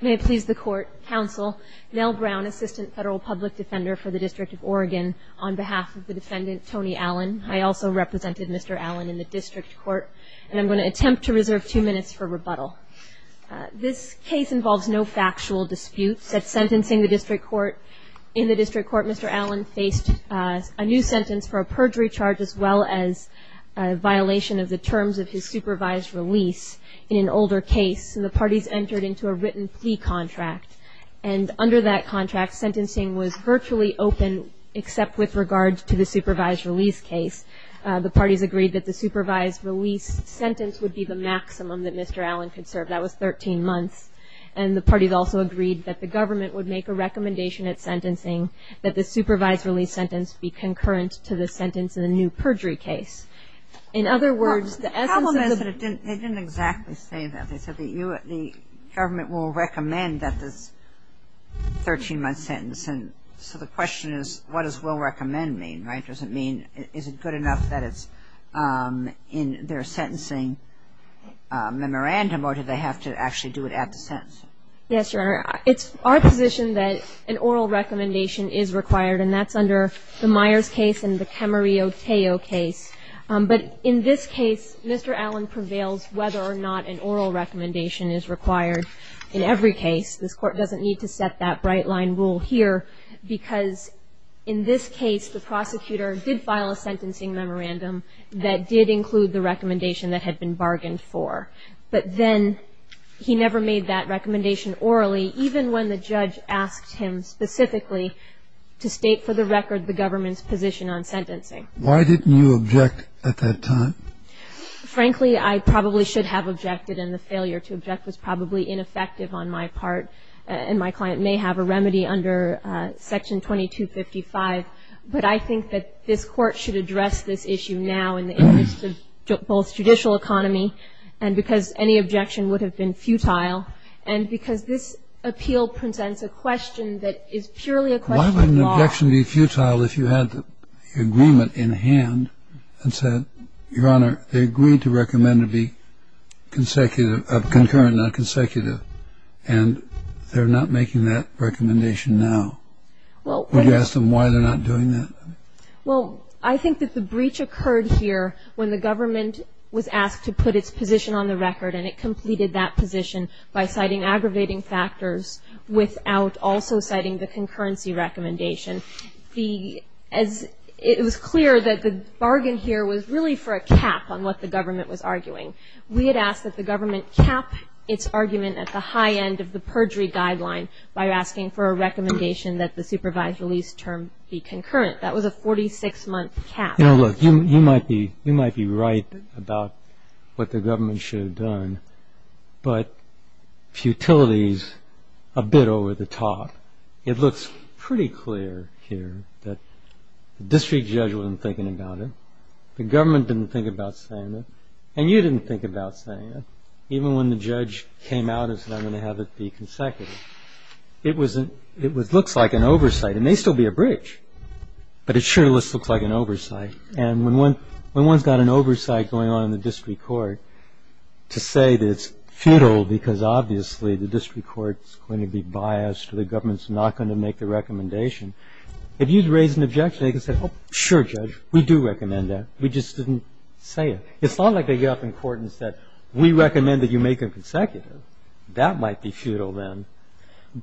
May it please the court, counsel, Nell Brown, assistant federal public defender for the District of Oregon, on behalf of the defendant Tony Allen. I also represented Mr. Allen in the district court and I'm going to attempt to reserve two minutes for rebuttal. This case involves no factual disputes. At sentencing the district court, in the district court Mr. Allen faced a new sentence for a perjury charge as well as a violation of the terms of his supervised release in an older case. The parties entered into a written plea contract and under that contract sentencing was virtually open except with regard to the supervised release case. The parties agreed that the supervised release sentence would be the maximum that Mr. Allen could serve. That was 13 months and the parties also agreed that the government would make a recommendation at sentencing that the supervised release sentence be concurrent to the sentence in the new perjury case. In other words, the essence of the The problem is that they didn't exactly say that. They said the government will recommend that this 13-month sentence and so the question is what does will recommend mean, right? Does it mean is it good enough that it's in their sentencing memorandum or do they have to actually do it at the sentence? Yes, Your Honor. It's our position that an oral recommendation is required and that's under the Myers case and the Camarillo-Tejo case. But in this case, Mr. Allen prevails whether or not an oral recommendation is required in every case. This Court doesn't need to set that bright line rule here because in this case the prosecutor did file a sentencing memorandum that did include the recommendation that had been bargained for. But then he never made that recommendation orally even when the judge asked him specifically to state for the record the government's position on sentencing. Why didn't you object at that time? Frankly, I probably should have objected and the failure to object was probably ineffective on my part and my client may have a remedy under Section 2255. But I think that this Court should address this issue now in the interest of both judicial economy and because any objection would have been futile and because this appeal presents a question that is purely a question of law. Why would an objection be futile if you had the agreement in hand and said, Your Honor, they agreed to recommend to be consecutive, concurrent, not consecutive, and they're not making that recommendation now. Would you ask them why they're not doing that? Well, I think that the breach occurred here when the government was asked to put its position on the record and it completed that position by citing aggravating factors without also citing the concurrency recommendation. It was clear that the bargain here was really for a cap on what the government was arguing. We had asked that the government cap its argument at the high end of the perjury guideline by asking for a recommendation that the supervised release term be concurrent. That was a 46-month cap. You know, look, you might be right about what the government should have done, but futility is a bit over the top. It looks pretty clear here that the district judge wasn't thinking about it, the government didn't think about saying it, and you didn't think about saying it, even when the judge came out and said, I'm going to have it be consecutive. It looks like an oversight. It may still be a breach, but it sure looks like an oversight. And when one's got an oversight going on in the district court to say that it's futile because obviously the district court's going to be biased or the government's not going to make the recommendation, if you'd raise an objection, they could say, oh, sure, judge, we do recommend that. We just didn't say it. It's not like they get up in court and said, we recommend that you make it consecutive. That might be futile then,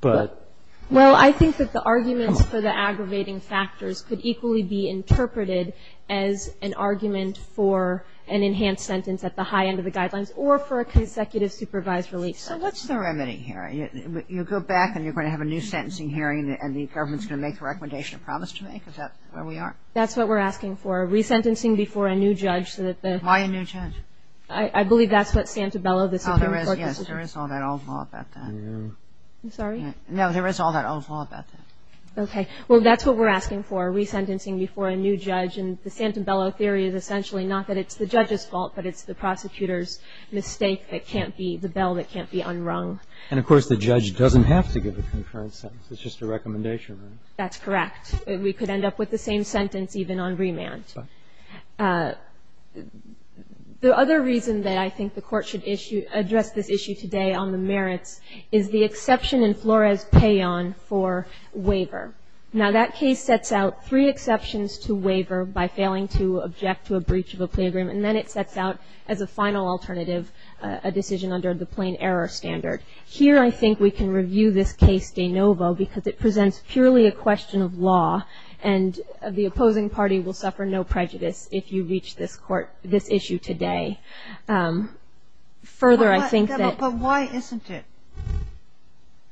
but — Well, I think that the arguments for the aggravating factors could equally be interpreted as an argument for an enhanced sentence at the high end of the guidelines or for a consecutive supervised release. So what's the remedy here? You go back and you're going to have a new sentencing hearing and the government's going to make the recommendation of promise to make? Is that where we are? That's what we're asking for, resentencing before a new judge so that the — Why a new judge? I believe that's what Santabello, the Supreme Court decision — Oh, there is, yes. There is all that old law about that. I'm sorry? No, there is all that old law about that. Okay. Well, that's what we're asking for, resentencing before a new judge. And the Santabello theory is essentially not that it's the judge's fault, but it's the prosecutor's mistake that can't be — the bell that can't be unrung. And, of course, the judge doesn't have to give a concurrence sentence. It's just a recommendation, right? That's correct. We could end up with the same sentence even on remand. The other reason that I think the Court should issue — address this issue today on the merits is the exception in Flores-Payon for waiver. Now, that case sets out three exceptions to waiver by failing to object to a breach of a plea agreement, and then it sets out as a final alternative a decision under the plain error standard. Here, I think we can review this case de novo because it presents purely a question of law, and the opposing party will suffer no prejudice if you reach this court — this issue today. Further, I think that — But why isn't it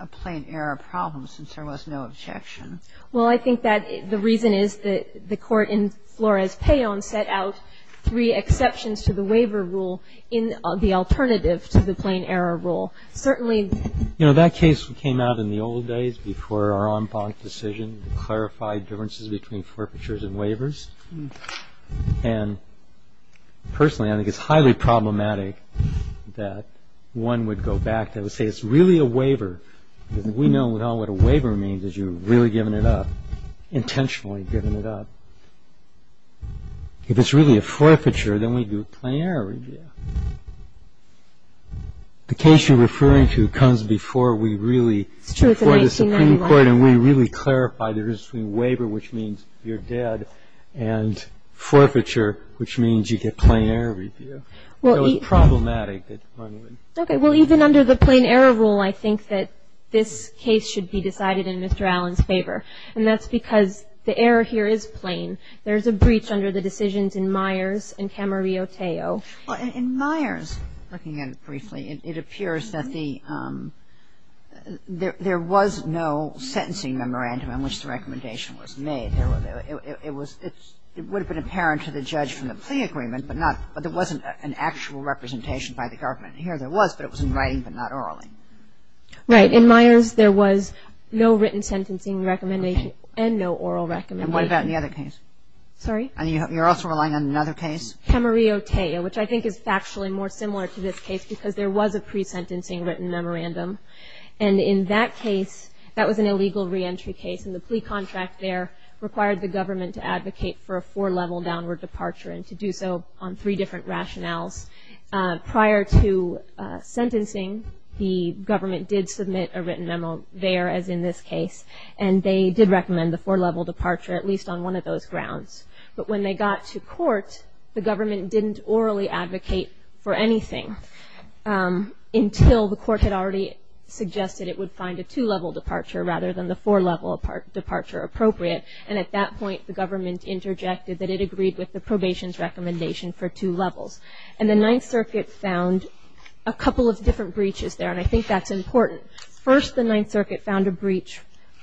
a plain error problem, since there was no objection? Well, I think that the reason is that the Court in Flores-Payon set out three exceptions to the waiver rule in the alternative to the plain error rule. Certainly — You know, that case came out in the old days before our en banc decision to clarify differences between forfeitures and waivers. And, personally, I think it's highly problematic that one would go back and say, it's really a waiver. We know now what a waiver means is you're really given it up, intentionally given it up. If it's really a forfeiture, then we do a plain error review. The case you're referring to comes before we really — It's true. It's in 1991. — before the Supreme Court, and we really clarify the difference between waiver, which means you're dead, and forfeiture, which means you get plain error review. It's problematic that one would — Okay. Well, even under the plain error rule, I think that this case should be decided in Mr. Allen's favor, and that's because the error here is plain. There's a breach under the decisions in Myers and Camarillo-Teo. Well, in Myers, looking at it briefly, it appears that the — there was no sentencing memorandum in which the recommendation was made. It was — it would have been apparent to the judge from the plea agreement, but not — but there wasn't an actual representation by the government. Here there was, but it was in writing, but not orally. Right. In Myers, there was no written sentencing recommendation and no oral recommendation. And what about in the other case? Sorry? You're also relying on another case? Camarillo-Teo, which I think is factually more similar to this case because there was a pre-sentencing written memorandum, and in that case, that was an illegal reentry case, and the plea contract there required the government to advocate for a four-level downward departure and to do so on three different rationales. Prior to sentencing, the government did submit a written memo there, as in this case, and they did recommend the four-level departure at least on one of those grounds. But when they got to court, the government didn't orally advocate for anything until the court had already suggested it would find a two-level departure rather than the four-level departure appropriate. And at that point, the government interjected that it agreed with the probation's recommendation for two levels. And the Ninth Circuit found a couple of different breaches there, and I think that's important. First, the Ninth Circuit found a breach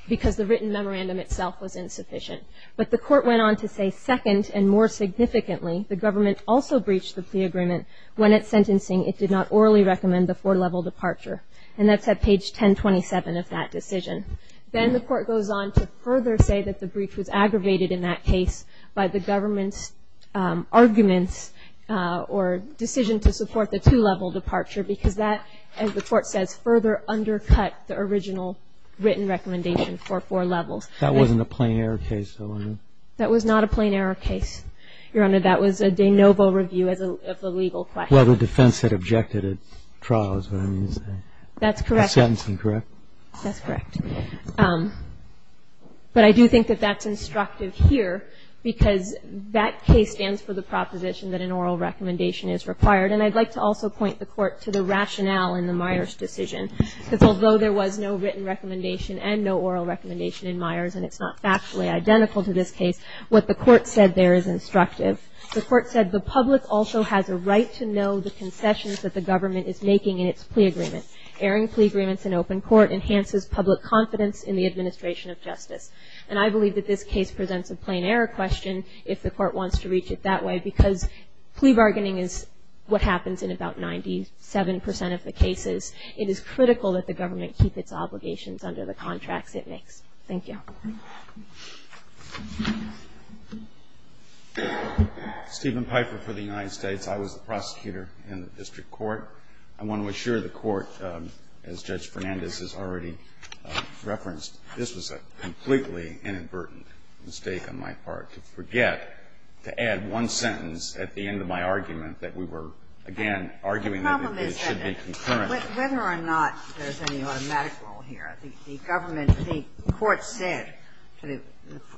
because the written memorandum itself was insufficient. But the court went on to say, second, and more significantly, the government also breached the plea agreement when, at sentencing, it did not orally recommend the four-level departure. And that's at page 1027 of that decision. Then the court goes on to further say that the breach was aggravated in that case by the government's arguments or decision to support the two-level departure because that, as the court says, further undercut the original written recommendation for four levels. That wasn't a plain error case, though, was it? That was not a plain error case, Your Honor. That was a de novo review of the legal question. Well, the defense had objected at trial, is what I mean to say. That's correct. At sentencing, correct? That's correct. But I do think that that's instructive here because that case stands for the proposition that an oral recommendation is required. And I'd like to also point the court to the rationale in the Myers decision. Because although there was no written recommendation and no oral recommendation in Myers, and it's not factually identical to this case, what the court said there is instructive. The court said the public also has a right to know the concessions that the government is making in its plea agreement. Airing plea agreements in open court enhances public confidence in the administration of justice. And I believe that this case presents a plain error question if the court wants to reach it that way. Because plea bargaining is what happens in about 97 percent of the cases. It is critical that the government keep its obligations under the contracts it makes. Thank you. Stephen Piper for the United States. I was the prosecutor in the district court. I want to assure the court, as Judge Fernandez has already referenced, this was a completely inadvertent mistake on my part to forget to add one sentence at the end of my argument that we were, again, arguing that it should be concurrent. The problem is that whether or not there's any automatic rule here, I think the government the court said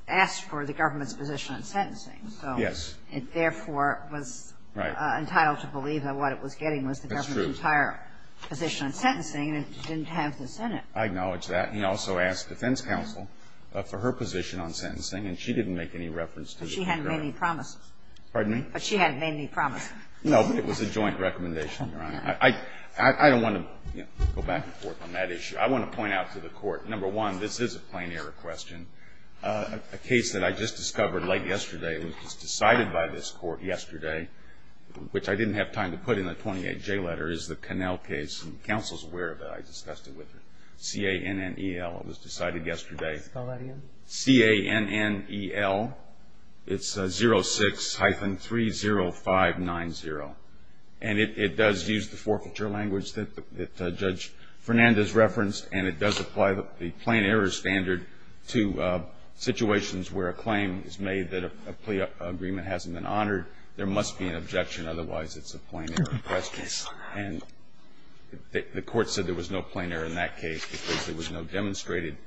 asked for the government's position on sentencing. Yes. It therefore was entitled to believe that what it was getting was the government's entire position on sentencing, and it didn't have this in it. I acknowledge that. And he also asked defense counsel for her position on sentencing, and she didn't make any reference to the contract. But she hadn't made any promises. Pardon me? But she hadn't made any promises. No, but it was a joint recommendation, Your Honor. I don't want to go back and forth on that issue. I want to point out to the court, number one, this is a plain error question. A case that I just discovered late yesterday, it was decided by this court yesterday, which I didn't have time to put in the 28J letter, is the Connell case. And counsel's aware of it. I discussed it with her. C-A-N-N-E-L. It was decided yesterday. Spell that again. C-A-N-N-E-L. It's 06-30590. And it does use the forfeiture language that Judge Fernandez referenced, and it does apply the plain error standard to situations where a claim is made that a plea agreement hasn't been honored, there must be an objection, otherwise it's a plain error question. And the court said there was no plain error in that case because there was no demonstrated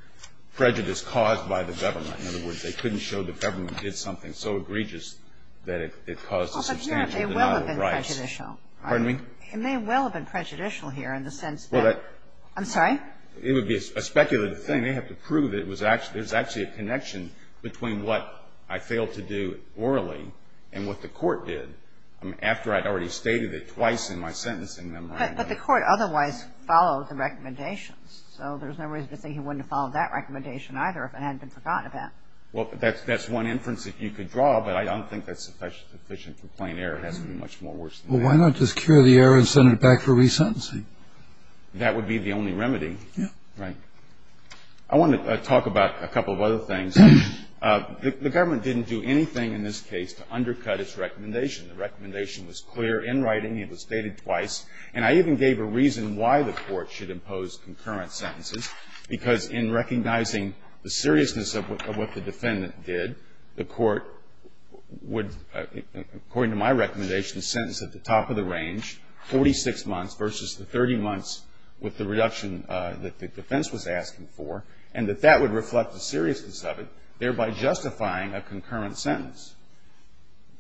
prejudice caused by the government. In other words, they couldn't show the government did something so egregious that it caused a substantial denial of rights. Well, but here, it may well have been prejudicial. Pardon me? It may well have been prejudicial here in the sense that the government did something so egregious that it caused a substantial denial of rights. I'm sorry? It would be a speculative thing. They have to prove that it was actually – there's actually a connection between what I failed to do orally and what the court did after I'd already stated it twice in my sentencing memorandum. But the court otherwise followed the recommendations. So there's no reason to think he wouldn't have followed that recommendation either if it hadn't been forgotten about. Well, that's one inference that you could draw, but I don't think that's sufficient for plain error. It has to be much more worse than that. Well, why not just cure the error and send it back for resentencing? That would be the only remedy. Yeah. Right. I want to talk about a couple of other things. The government didn't do anything in this case to undercut its recommendation. The recommendation was clear in writing. It was stated twice. And I even gave a reason why the court should impose concurrent sentences because in recognizing the seriousness of what the defendant did, the court would, according to my recommendation, sentence at the top of the range, 46 months versus the 30 months with the reduction that the defense was asking for, and that that would reflect the seriousness of it, thereby justifying a concurrent sentence.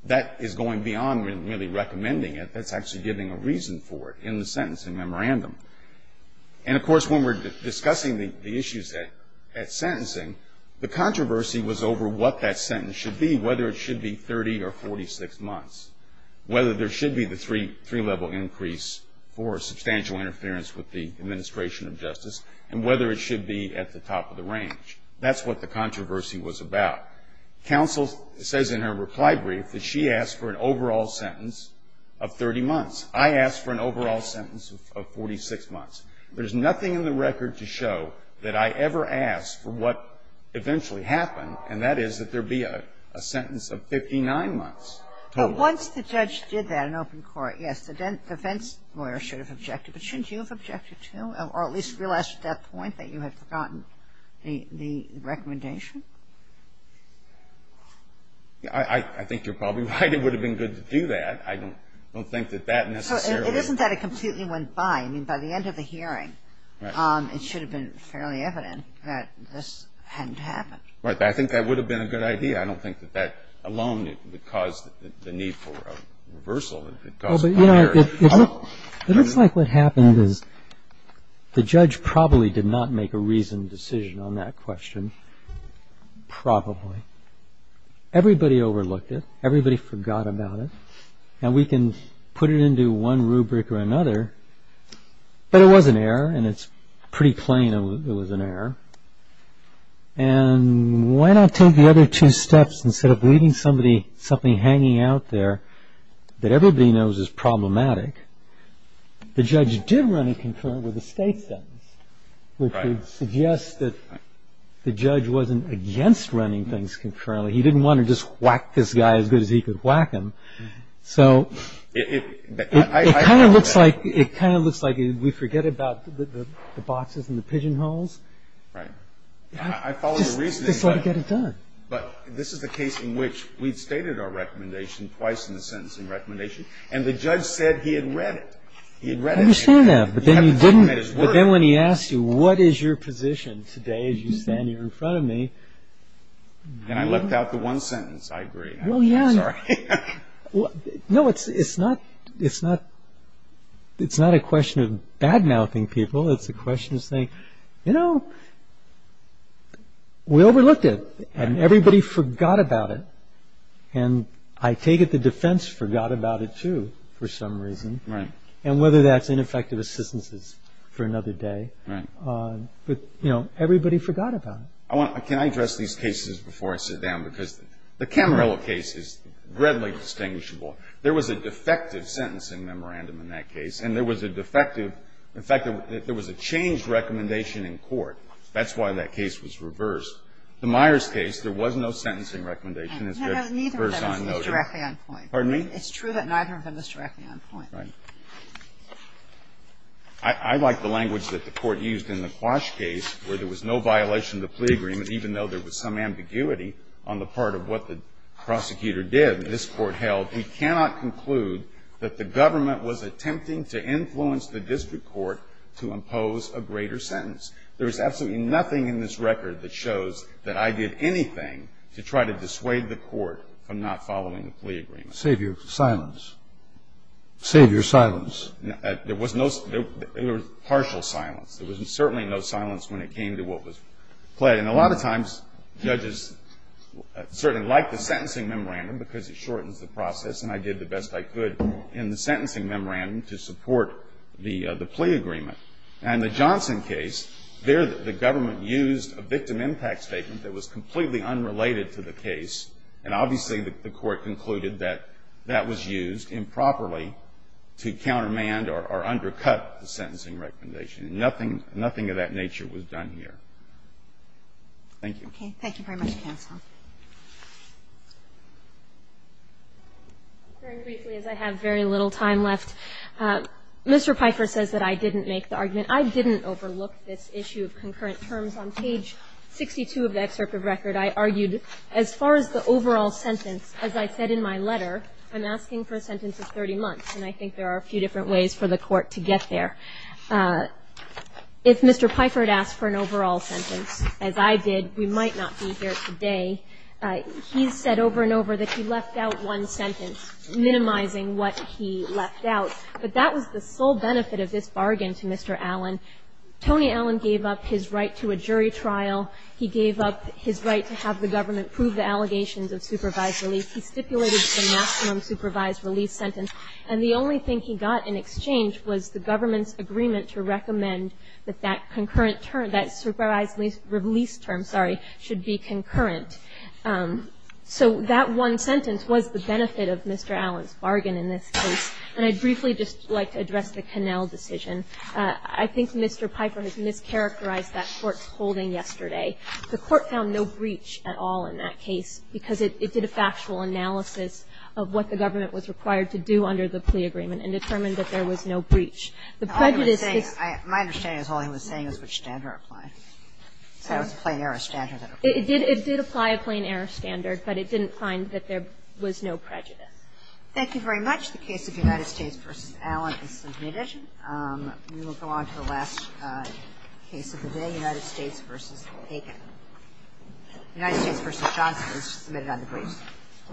That is going beyond really recommending it. That's actually giving a reason for it in the sentencing memorandum. And of course, when we're discussing the issues at sentencing, the controversy was over what that sentence should be, whether it should be 30 or 46 months, whether there should be the three level increase for substantial interference with the administration of justice, and whether it should be at the top of the range. That's what the controversy was about. Counsel says in her reply brief that she asked for an overall sentence of 30 months. I asked for an overall sentence of 46 months. There's nothing in the record to show that I ever asked for what eventually happened, and that is that there be a sentence of 59 months. But once the judge did that in open court, yes, the defense lawyer should have objected, but shouldn't you have objected, too, or at least realized at that point that you had forgotten the recommendation? I think you're probably right. It would have been good to do that. I don't think that that necessarily It isn't that it completely went by. I mean, by the end of the hearing, it should have been fairly evident that this hadn't happened. Right, but I think that would have been a good idea. I don't think that that alone would have caused the need for a reversal. Well, but it looks like what happened is the judge probably did not make a reasoned decision on that question, probably. Everybody overlooked it. Everybody forgot about it. Now, we can put it into one rubric or another, but it was an error, and it's pretty plain it was an error. And why not take the other two steps, instead of leaving somebody, something hanging out there that everybody knows is problematic? The judge did run a concurrent with the state sentence, which would suggest that the judge wasn't against running things concurrently. He didn't want to just whack this guy as good as he could whack him. So it kind of looks like we forget about the boxes and the pigeonholes, right? I follow your reasoning, but this is the case in which we've stated our recommendation twice in the sentencing recommendation, and the judge said he had read it. He had read it. I understand that, but then when he asked you, what is your position today as you stand here in front of me? And I left out the one sentence, I agree. Well, yeah. Sorry. No, it's not a question of bad-mouthing people. It's a question of saying, you know, we overlooked it, and everybody forgot about it. And I take it the defense forgot about it, too, for some reason, and whether that's ineffective assistance for another day. But everybody forgot about it. Can I address these cases before I sit down? Because the Camarillo case is readily distinguishable. There was a defective sentencing memorandum in that case, and there was a defective – in fact, there was a changed recommendation in court. That's why that case was reversed. The Myers case, there was no sentencing recommendation. It's just first time noted. Neither of them is directly on point. Pardon me? It's true that neither of them is directly on point. Right. I like the language that the Court used in the Quash case, where there was no violation of the plea agreement, even though there was some ambiguity on the part of what the prosecutor did. I think it's important to note that in the case that this Court held, we cannot conclude that the government was attempting to influence the district court to impose a greater sentence. There is absolutely nothing in this record that shows that I did anything to try to dissuade the court from not following the plea agreement. Save your silence. Save your silence. There was no – there was partial silence. There was certainly no silence when it came to what was pled. And a lot of times, judges certainly like the sentencing memorandum because it shortens the process, and I did the best I could in the sentencing memorandum to support the plea agreement. And the Johnson case, there the government used a victim impact statement that was completely unrelated to the case, and obviously the Court concluded that that was used improperly to countermand or undercut the sentencing recommendation. Nothing – nothing of that nature was done here. GOTTLIEB Okay. Thank you very much, counsel. MS. GOTTLIEB Very briefly, as I have very little time left, Mr. Piper says that I didn't make the argument. I didn't overlook this issue of concurrent terms. On page 62 of the excerpt of record, I argued as far as the overall sentence, as I said in my letter, I'm asking for a sentence of 30 months, and I think there are a few different ways for the Court to get there. If Mr. Piper had asked for an overall sentence, as I did, we might not be here today. He's said over and over that he left out one sentence, minimizing what he left out. But that was the sole benefit of this bargain to Mr. Allen. Tony Allen gave up his right to a jury trial. He gave up his right to have the government prove the allegations of supervised release. He stipulated the maximum supervised release sentence. And the only thing he got in exchange was the government's agreement to recommend that that concurrent term, that supervised release term, sorry, should be concurrent. So that one sentence was the benefit of Mr. Allen's bargain in this case. And I'd briefly just like to address the Connell decision. I think Mr. Piper has mischaracterized that Court's holding yesterday. The Court found no breach at all in that case, because it did a factual analysis of what the government was required to do under the plea agreement and determined that there was no breach. The prejudice is the same. My understanding is all he was saying is which standard applied. It was a plain error standard that applied. It did apply a plain error standard, but it didn't find that there was no prejudice. Thank you very much. The case of United States v. Allen is submitted. We will go on to the last case of the day, United States v. Bacon. United States v. Johnson is submitted on the briefs.